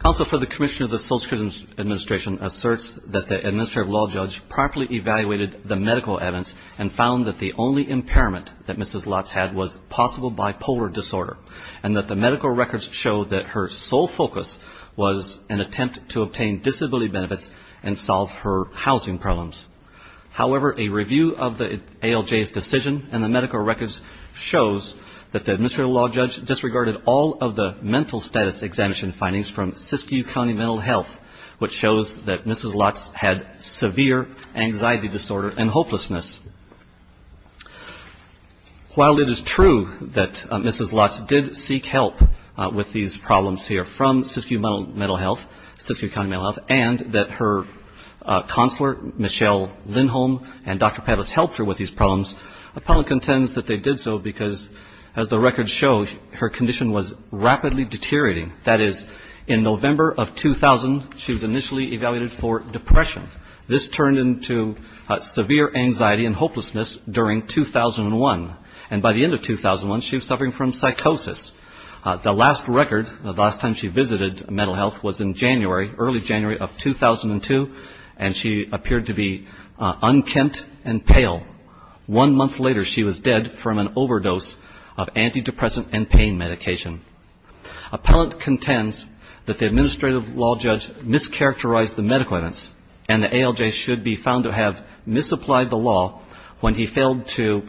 Counsel for the Commission of the Social Security Administration asserts that the administrative law judge properly evaluated the medical evidence and found that the only impairment that Mrs. Lotz had was possible bipolar disorder and that the medical records show that her sole focus was an attempt to obtain disability benefits and solve her housing problems. However, a review of the ALJ's decision and the medical records shows that the administrative law judge disregarded all of the mental status examination findings from Siskiyou County Mental Health, which shows that Mrs. Lotz had severe anxiety disorder and hopelessness. While it is true that Mrs. Lotz did seek help with these problems here from Siskiyou County Mental Health and that her counselor, Michelle Lindholm, and Dr. Pettis helped her with these problems, the public contends that they did so because, as the records show, her condition was rapidly deteriorating. That is, in November of 2000, she was initially evaluated for depression. This turned into severe anxiety and hopelessness during 2001. And by the end of 2001, she was suffering from psychosis. The last record, the last time she visited mental health was in January, early January of 2002, and she appeared to be unkempt and pale. One month later, she was dead from an overdose of antidepressant and pain medication. Appellant contends that the administrative law judge mischaracterized the medical evidence and the ALJ should be found to have misapplied the law when he failed to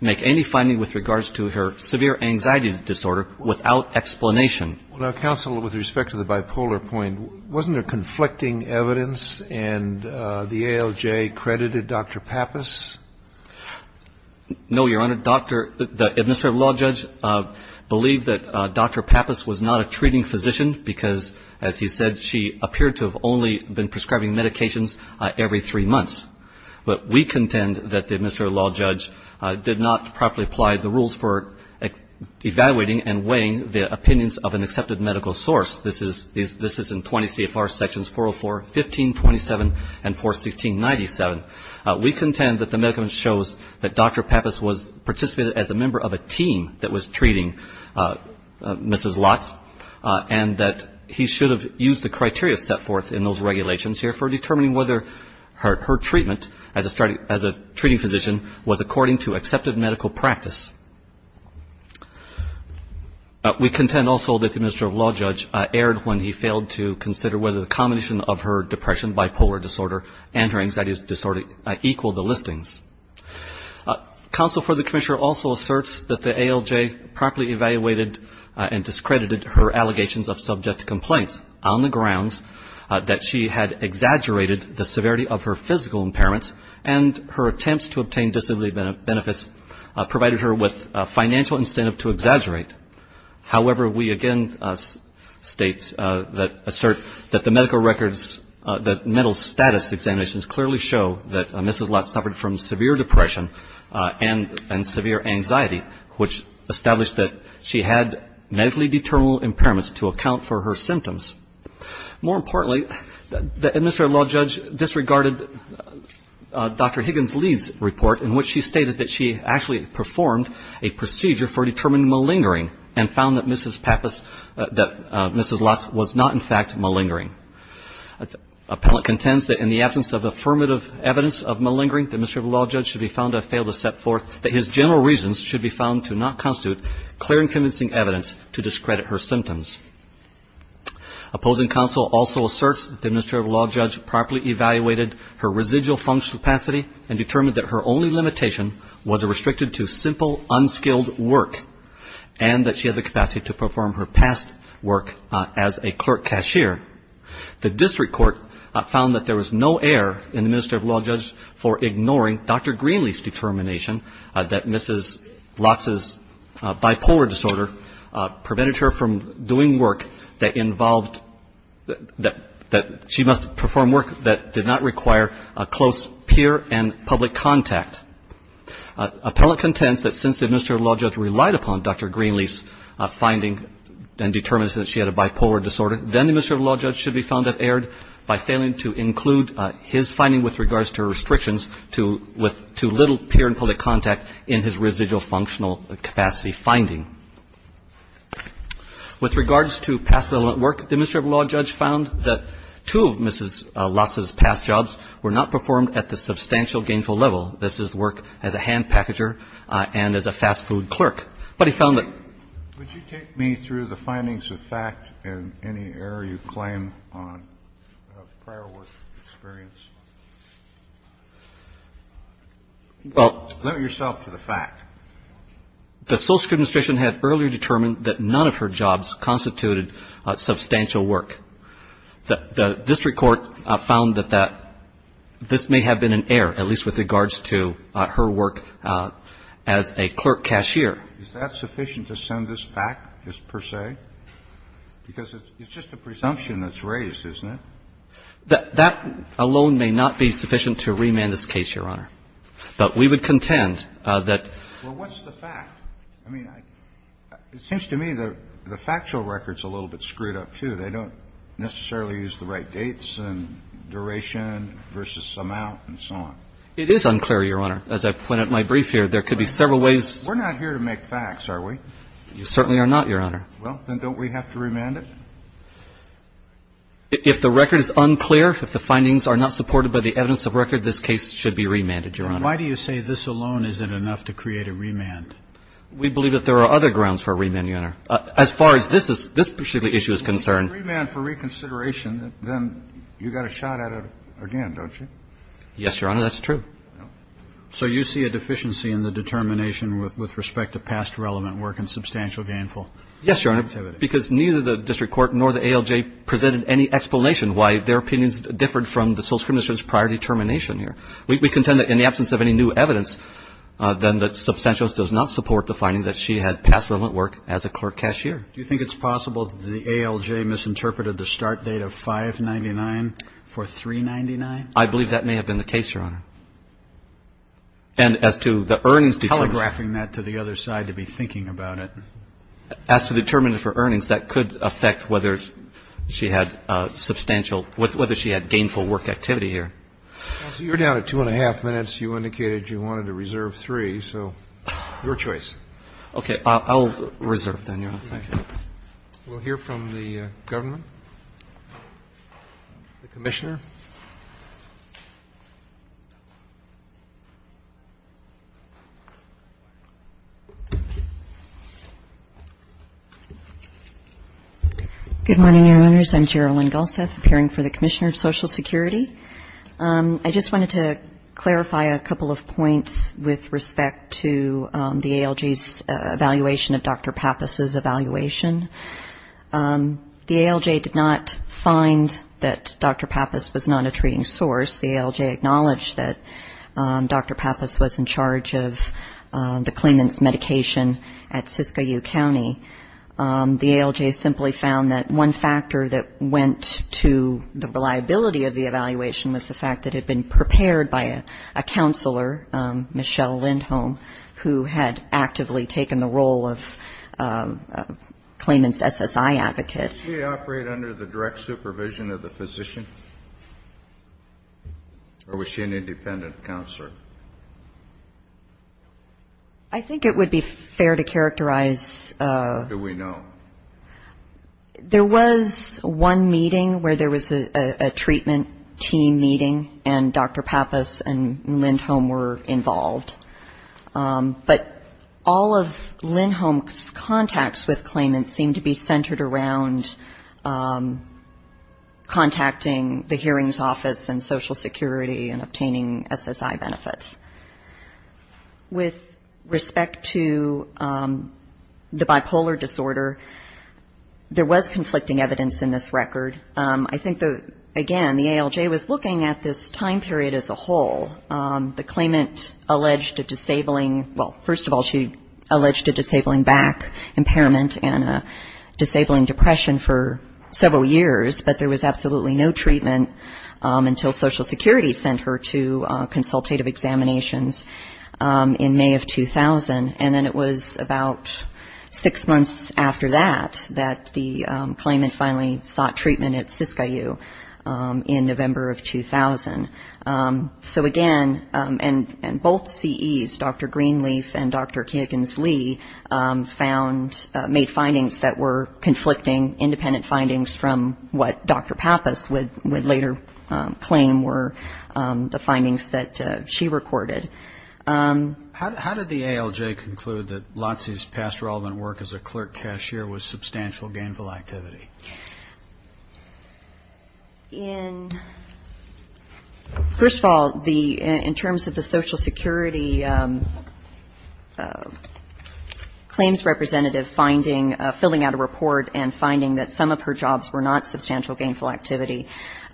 make any finding with regards to her severe anxiety disorder without explanation. Well, now, counsel, with respect to the bipolar point, wasn't there conflicting evidence and the ALJ credited Dr. Pappas? No, Your Honor. The administrative law judge believed that Dr. Pappas was not a treating physician because, as he said, she appeared to have only been prescribing medications every three months. But we contend that the administrative law judge did not properly apply the rules for evaluating and weighing the opinions of an accepted medical source. This is in 20 CFR Sections 404, 1527, and 41697. We contend that the medical evidence shows that Dr. Pappas participated as a member of a team that was treating Mrs. Lotz and that he should have used the criteria set forth in those regulations here for determining whether her treatment as a treating physician was according to accepted medical practice. We contend also that the administrative law judge erred when he failed to consider whether the combination of her depression, bipolar disorder, and her anxiety disorder equaled the listings. Counsel for the commissioner also asserts that the ALJ properly evaluated and discredited her allegations of subject to complaints on the grounds that she had exaggerated the severity of her physical impairments and her attempts to obtain disability benefits provided her with financial incentive to exaggerate. However, we again state that assert that the medical records, that mental status examinations clearly show that Mrs. Lotz suffered from severe depression and severe anxiety, which established that she had medically determinable impairments to account for her symptoms. More importantly, the administrative law judge disregarded Dr. Higgins-Lee's report in which she stated that she actually performed a procedure for determining malingering and found that Mrs. Pappas, that Mrs. Lotz was not in fact malingering. Appellant contends that in the absence of affirmative evidence of malingering, the administrative law judge should be found to have failed to set forth that his general reasons should be found to not constitute clear and convincing evidence to discredit her symptoms. Opposing counsel also asserts that the administrative law judge properly evaluated her residual functional capacity and determined that her only limitation was restricted to simple, unskilled work and that she had the capacity to perform her past work as a clerk cashier. The district court found that there was no error in the administrative law judge for ignoring Dr. Greenlee's determination that Mrs. Lotz's bipolar disorder prevented her from doing work that involved that she must perform work that did not require close peer and public contact. Appellant contends that since the administrative law judge relied upon Dr. Greenlee's finding and determined that she had a bipolar disorder, then the administrative law judge should be found to have erred in close contact in his residual functional capacity finding. With regards to past work, the administrative law judge found that two of Mrs. Lotz's past jobs were not performed at the substantial gainful level. This is work as a hand packager and as a fast food clerk. But he found that ---- Kennedy, would you take me through the findings of fact and any error you claim on prior work experience? Well ---- Limit yourself to the fact. The social administration had earlier determined that none of her jobs constituted substantial work. The district court found that that this may have been an error, at least with regards to her work as a clerk cashier. Is that sufficient to send this back, just per se? Because it's just a presumption that's raised, isn't it? That alone may not be sufficient to remand this case, Your Honor. But we would contend that ---- Well, what's the fact? I mean, it seems to me the factual record's a little bit screwed up, too. They don't necessarily use the right dates and duration versus amount and so on. It is unclear, Your Honor. As I point out in my brief here, there could be several ways ---- We're not here to make facts, are we? You certainly are not, Your Honor. Well, then don't we have to remand it? If the record is unclear, if the findings are not supported by the evidence of record, this case should be remanded, Your Honor. Why do you say this alone isn't enough to create a remand? We believe that there are other grounds for a remand, Your Honor. As far as this is ---- this particular issue is concerned ---- If it's a remand for reconsideration, then you've got a shot at it again, don't you? Yes, Your Honor. That's true. So you see a deficiency in the determination with respect to past relevant work and substantial gainful activity? Because neither the district court nor the ALJ presented any explanation why their opinions differed from the social commission's prior determination here. We contend that in the absence of any new evidence, then the substantial does not support the finding that she had past relevant work as a court cashier. Do you think it's possible that the ALJ misinterpreted the start date of 599 for 399? I believe that may have been the case, Your Honor. And as to the earnings determination ---- Telegraphing that to the other side to be thinking about it. As to the determination for earnings, that could affect whether she had substantial ---- whether she had gainful work activity here. Counsel, you're down to two and a half minutes. You indicated you wanted to reserve three, so your choice. Okay. I'll reserve, then, Your Honor. Thank you. We'll hear from the government. The Commissioner. Good morning, Your Honors. I'm Gerilyn Galseth, appearing for the Commissioner of Social Security. I just wanted to clarify a couple of points with respect to the ALJ's evaluation of Dr. Pappas's evaluation. The ALJ did not find that Dr. Pappas was not a treating source. The ALJ acknowledged that Dr. Pappas was in charge of the claimant's medication at Siskiyou County. The ALJ simply found that one factor that went to the reliability of the evaluation was the fact that it had been prepared by a counselor, Michelle Lindholm, who had actively taken the role of claimant's SSI advocate. Did she operate under the direct supervision of the physician, or was she an independent counselor? I think it would be fair to characterize. Do we know? There was one meeting where there was a treatment team meeting, and Dr. Pappas and Lindholm were involved. But all of Lindholm's contacts with claimants seemed to be centered around contacting the hearings office and social security and obtaining SSI benefits. With respect to the bipolar disorder, there was conflicting evidence in this record. I think, again, the ALJ was looking at this time period as a whole. The claimant alleged a disabling, well, first of all, she alleged a disabling back impairment and a disabling depression for several years, but there was absolutely no treatment until social security sent her to consultative examinations in May of 2000. And then it was about six months after that that the claimant finally sought treatment at Siskiyou in November of 2000. So, again, and both CEs, Dr. Greenleaf and Dr. Kagan's Lee found, made findings that were conflicting, independent findings from what Dr. Pappas would later claim were the findings that she recorded. How did the ALJ conclude that Lotsee's past relevant work as a clerk cashier was substantial gainful activity? In first of all, in terms of the social security claims representative finding, filling out a report and finding that some of her jobs were not substantial gainful activity,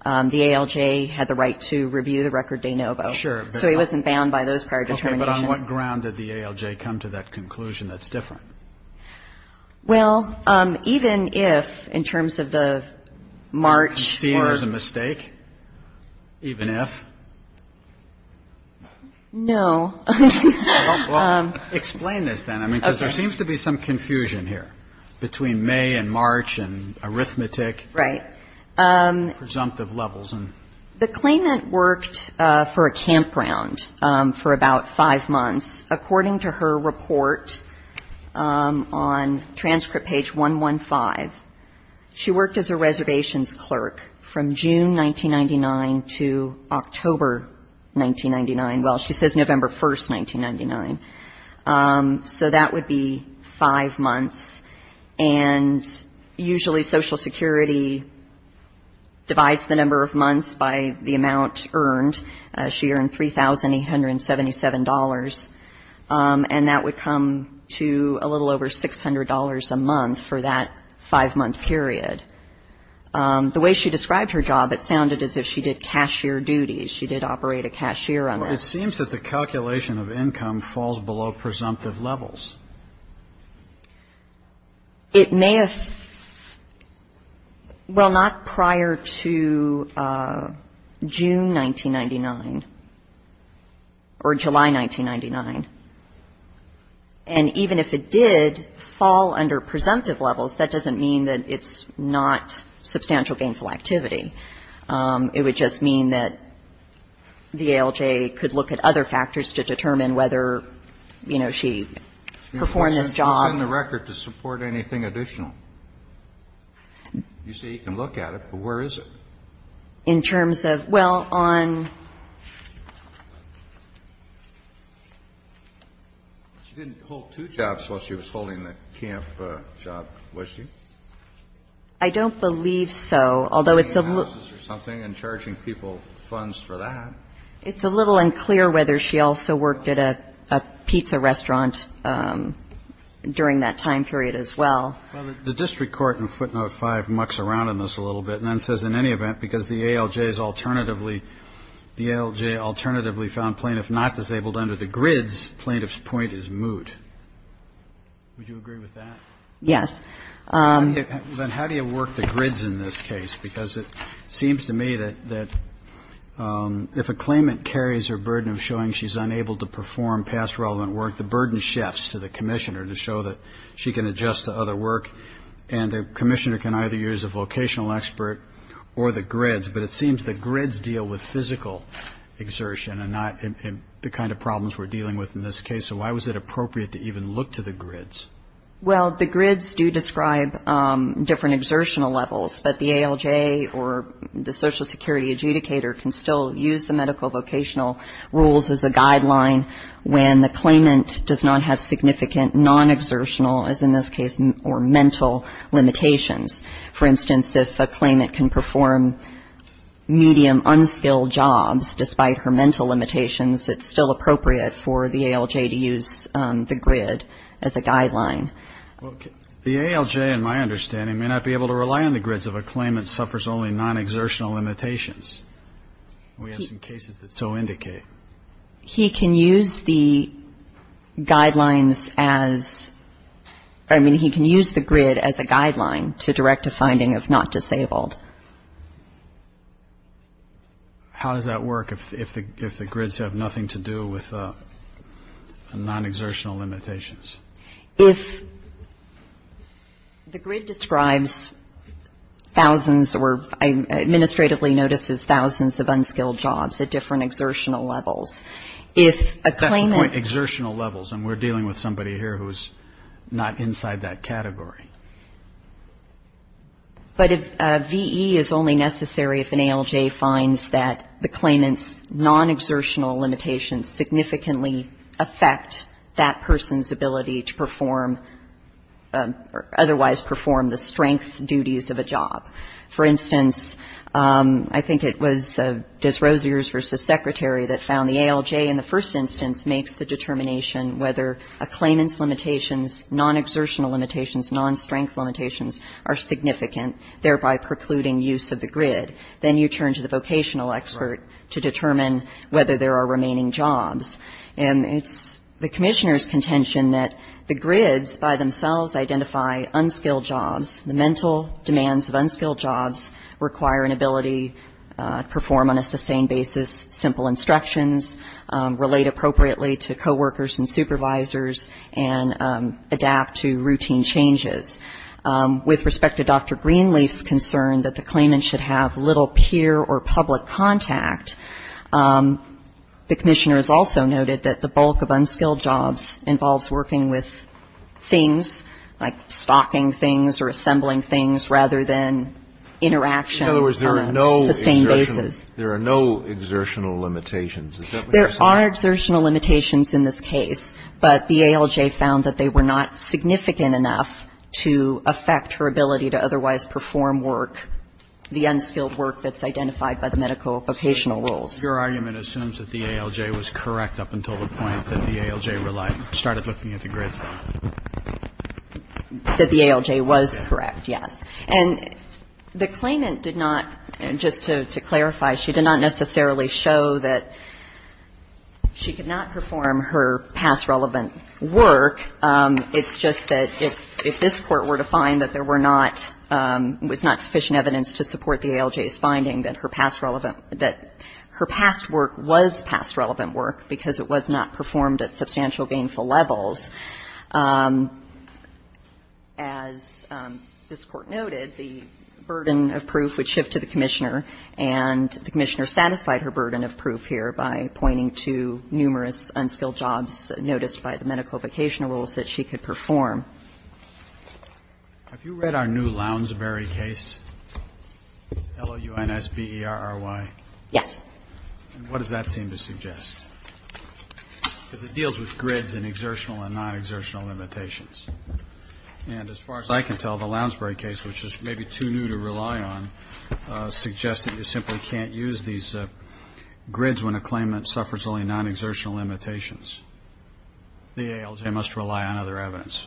the ALJ had the right to review the record de novo. So it wasn't bound by those prior determinations. But on what ground did the ALJ come to that conclusion that's different? Well, even if, in terms of the March or the... You see there's a mistake? Even if? No. Well, explain this then. I mean, because there seems to be some confusion here between May and March and arithmetic. Right. Presumptive levels. The claimant worked for a campground for about five months. According to her report on transcript page 115, she worked as a reservations clerk from June 1999 to October 1999. Well, she says November 1, 1999. So that would be five months. And usually social security divides the number of months by the amount earned. She earned $3,877. And that would come to a little over $600 a month for that five-month period. The way she described her job, it sounded as if she did cashier duties. She did operate a cashier on that. Well, it seems that the calculation of income falls below presumptive levels. It may have — well, not prior to June 1999 or July 1999. And even if it did fall under presumptive levels, that doesn't mean that it's not substantial gainful activity. It would just mean that the ALJ could look at other factors to determine whether, you know, she was able to perform this job. She's in the record to support anything additional. You say you can look at it, but where is it? In terms of — well, on — She didn't hold two jobs while she was holding the camp job, was she? I don't believe so, although it's a little — It's a little unclear whether she also worked at a pizza restaurant during that time period as well. Well, the district court in footnote 5 mucks around in this a little bit and then says in any event, because the ALJ's alternatively — the ALJ alternatively found plaintiff not disabled under the grids, plaintiff's point is moot. Would you agree with that? Yes. Then how do you work the grids in this case? Because it seems to me that if a claimant carries her burden of showing she's unable to perform past relevant work, the burden shifts to the commissioner to show that she can adjust to other work, and the commissioner can either use a vocational expert or the grids, but it seems the grids deal with physical exertion and not the kind of problems we're dealing with in this case. So why was it appropriate to even look to the grids? Well, the ALJ, in my understanding, may not be able to rely on the grids if a claimant suffers only non-exertional limitations. We have some cases that so indicate. He can use the guidelines as — I mean, he can use the grid as a guideline to direct a finding of not disabled. How does that work if the grids have nothing to do with non-exertional limitations? If the grid describes thousands or administratively notices thousands of unskilled jobs at different exertional levels, if a claimant... Exertional levels, and we're dealing with somebody here who's not inside that category. But if VE is only necessary if an ALJ finds that the claimant's non-exertional limitations significantly affect that person's ability to perform or otherwise perform the strength duties of a job. For instance, I think it was Des Rosiers v. Secretary that found the ALJ in the first instance makes the determination whether a claimant's non-exertional limitations, non-strength limitations are significant, thereby precluding use of the grid. Then you turn to the vocational expert to determine whether there are remaining jobs. And it's the Commissioner's contention that the grids by themselves identify unskilled jobs. The mental demands of unskilled jobs require an ability to perform on a sustained basis, simple instructions, relate appropriately to coworkers and supervisors, and adapt to routine changes. With respect to Dr. Greenleaf's concern that the claimant should have little peer or public contact, the Commissioner has also noted that the bulk of unskilled jobs involves working with things, like stocking things or assembling things, rather than interaction on a sustained basis. There are no exertional limitations. Is that what you're saying? There are exertional limitations in this case, but the ALJ found that they were not significant enough to affect her ability to otherwise perform work, the unskilled work that's identified by the medical vocational rules. Your argument assumes that the ALJ was correct up until the point that the ALJ relied or started looking at the grids. That the ALJ was correct, yes. And the claimant did not, just to clarify, she did not necessarily show that she could not perform her past relevant work. It's just that if this Court were to find that there were not, was not sufficient evidence to support the ALJ's finding that her past relevant, that her past work was past relevant work because it was not performed at substantial gainful levels, as this Court noted, the burden of proof would shift to the Commissioner, and the Commissioner satisfied her burden of proof here by pointing to numerous unskilled jobs noticed by the medical vocational rules that she could perform. Have you read our new Lounsbury case, L-O-U-N-S-B-E-R-R-Y? Yes. And what does that seem to suggest? Because it deals with grids and exertional and non-exertional limitations. And as far as I can tell, the Lounsbury case, which is maybe too new to rely on, suggests that you simply can't use these grids when a claimant suffers only non-exertional limitations. The ALJ must rely on other evidence.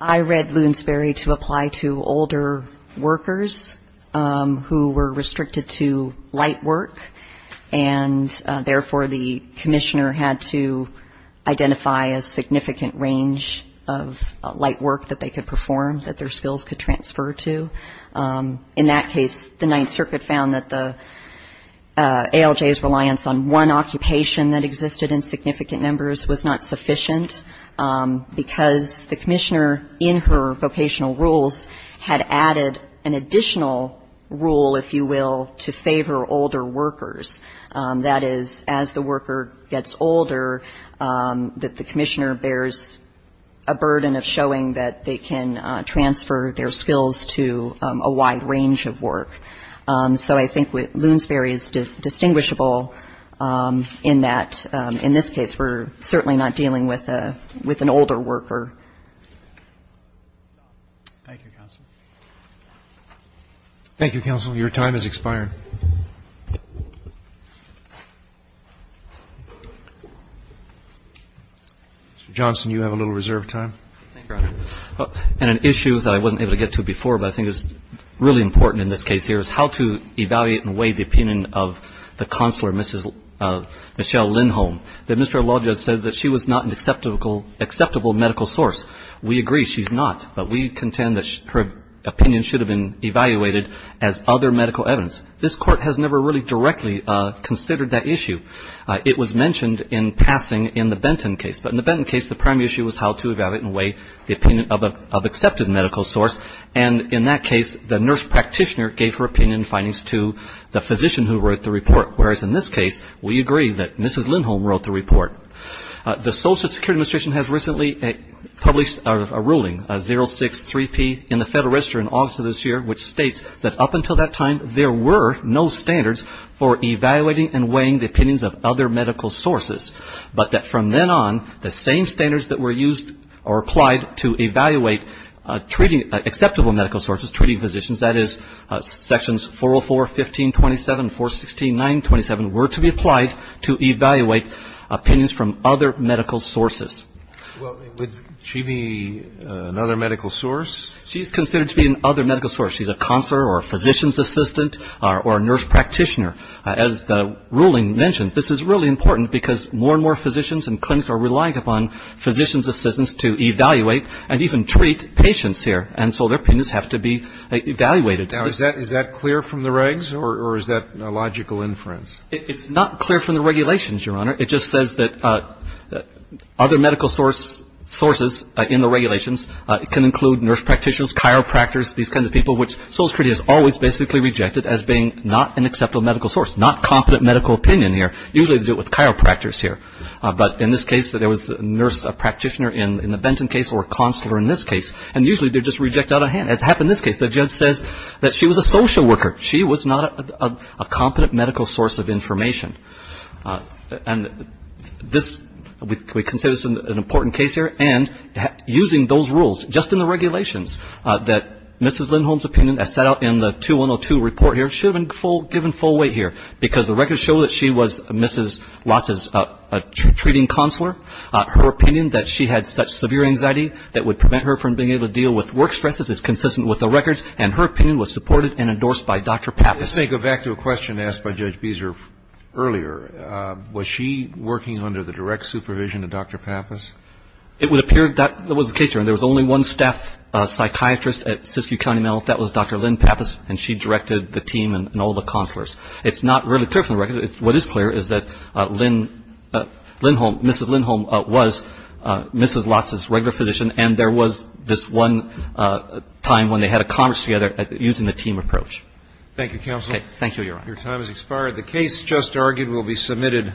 I read Lounsbury to apply to older workers who were restricted to light work, and, therefore, the Commissioner had to identify a significant range of light work that they could perform, that their skills could transfer to. In that case, the Ninth Circuit found that the ALJ's reliance on one occupation that existed in significant numbers was not sufficient, because the Commissioner in her vocational rules had added an additional rule, if you will, to favor older workers. That is, as the worker gets older, that the Commissioner bears a burden of showing that they can transfer their skills to a wide range of work. So I think Lounsbury is distinguishable in that, in this case, we're certainly not dealing with an older worker. Thank you, Counsel. Mr. Johnson, you have a little reserve of time. Thank you, Your Honor. And an issue that I wasn't able to get to before, but I think is really important in this case here, is how to evaluate and weigh the opinion of the Counselor, Ms. Michelle Lindholm, that Mr. Alonzo said that she was not an acceptable medical source. We agree, she's not, but we contend that her opinion should have been evaluated as other medical evidence. This Court has never really directly considered that issue. It was mentioned in passing in the Benton case, but in the Benton case, the prime issue was how to evaluate and weigh the opinion of an accepted medical source, and in that case, the nurse practitioner gave her opinion and findings to the physician who wrote the report, whereas in this case, we agree that Mrs. Lindholm wrote the report. The Social Security Administration has recently published a ruling, 063P, in the Federal Register in August of this year, which states that up until that time, there were no standards for evaluating and weighing the opinions of other medical sources, but that from then on, the same acceptable medical sources, treating physicians, that is, sections 404, 1527, 416, 927, were to be applied to evaluate opinions from other medical sources. Well, would she be another medical source? She's considered to be another medical source. She's a counselor or a physician's assistant or a nurse practitioner. As the ruling mentions, this is really important because more and more physicians and clinics are relying upon physician's assistants to evaluate and even treat patients here, and so their opinions have to be evaluated. Now, is that clear from the regs, or is that a logical inference? It's not clear from the regulations, Your Honor. It just says that other medical sources in the regulations can include nurse practitioners, chiropractors, these kinds of people, which Social Security has always basically rejected as being not an acceptable medical source, not competent medical opinion here. Usually they do it with chiropractors here. But in this case, there was a nurse practitioner in the Benton case or a counselor in this case, and usually they're just rejected out of hand, as happened in this case. The judge says that she was a social worker. She was not a competent medical source of information. And this, we consider this an important case here, and using those rules just in the regulations that Mrs. Lindholm's opinion, as set out in the 2102 report here, should have been given full weight here, because the records show that she was Mrs. Lotz's treating counselor. Her opinion that she had such severe anxiety that would prevent her from being able to deal with work stresses is consistent with the records, and her opinion was supported and endorsed by Dr. Pappas. Let's go back to a question asked by Judge Beeser earlier. Was she working under the direct supervision of Dr. Pappas? It would appear that was the case, Your Honor. There was only one staff psychiatrist at Siskiyou County Mental Health. That was Dr. Lynn Pappas, and she directed the team and all the counselors. It's not really clear from the records. What is clear is that Lynn, Lindholm, Mrs. Lindholm was Mrs. Lotz's regular physician, and there was this one time when they had a conference together using the team approach. Thank you, counsel. Okay. Thank you, Your Honor. Your time has expired. The case just argued will be submitted.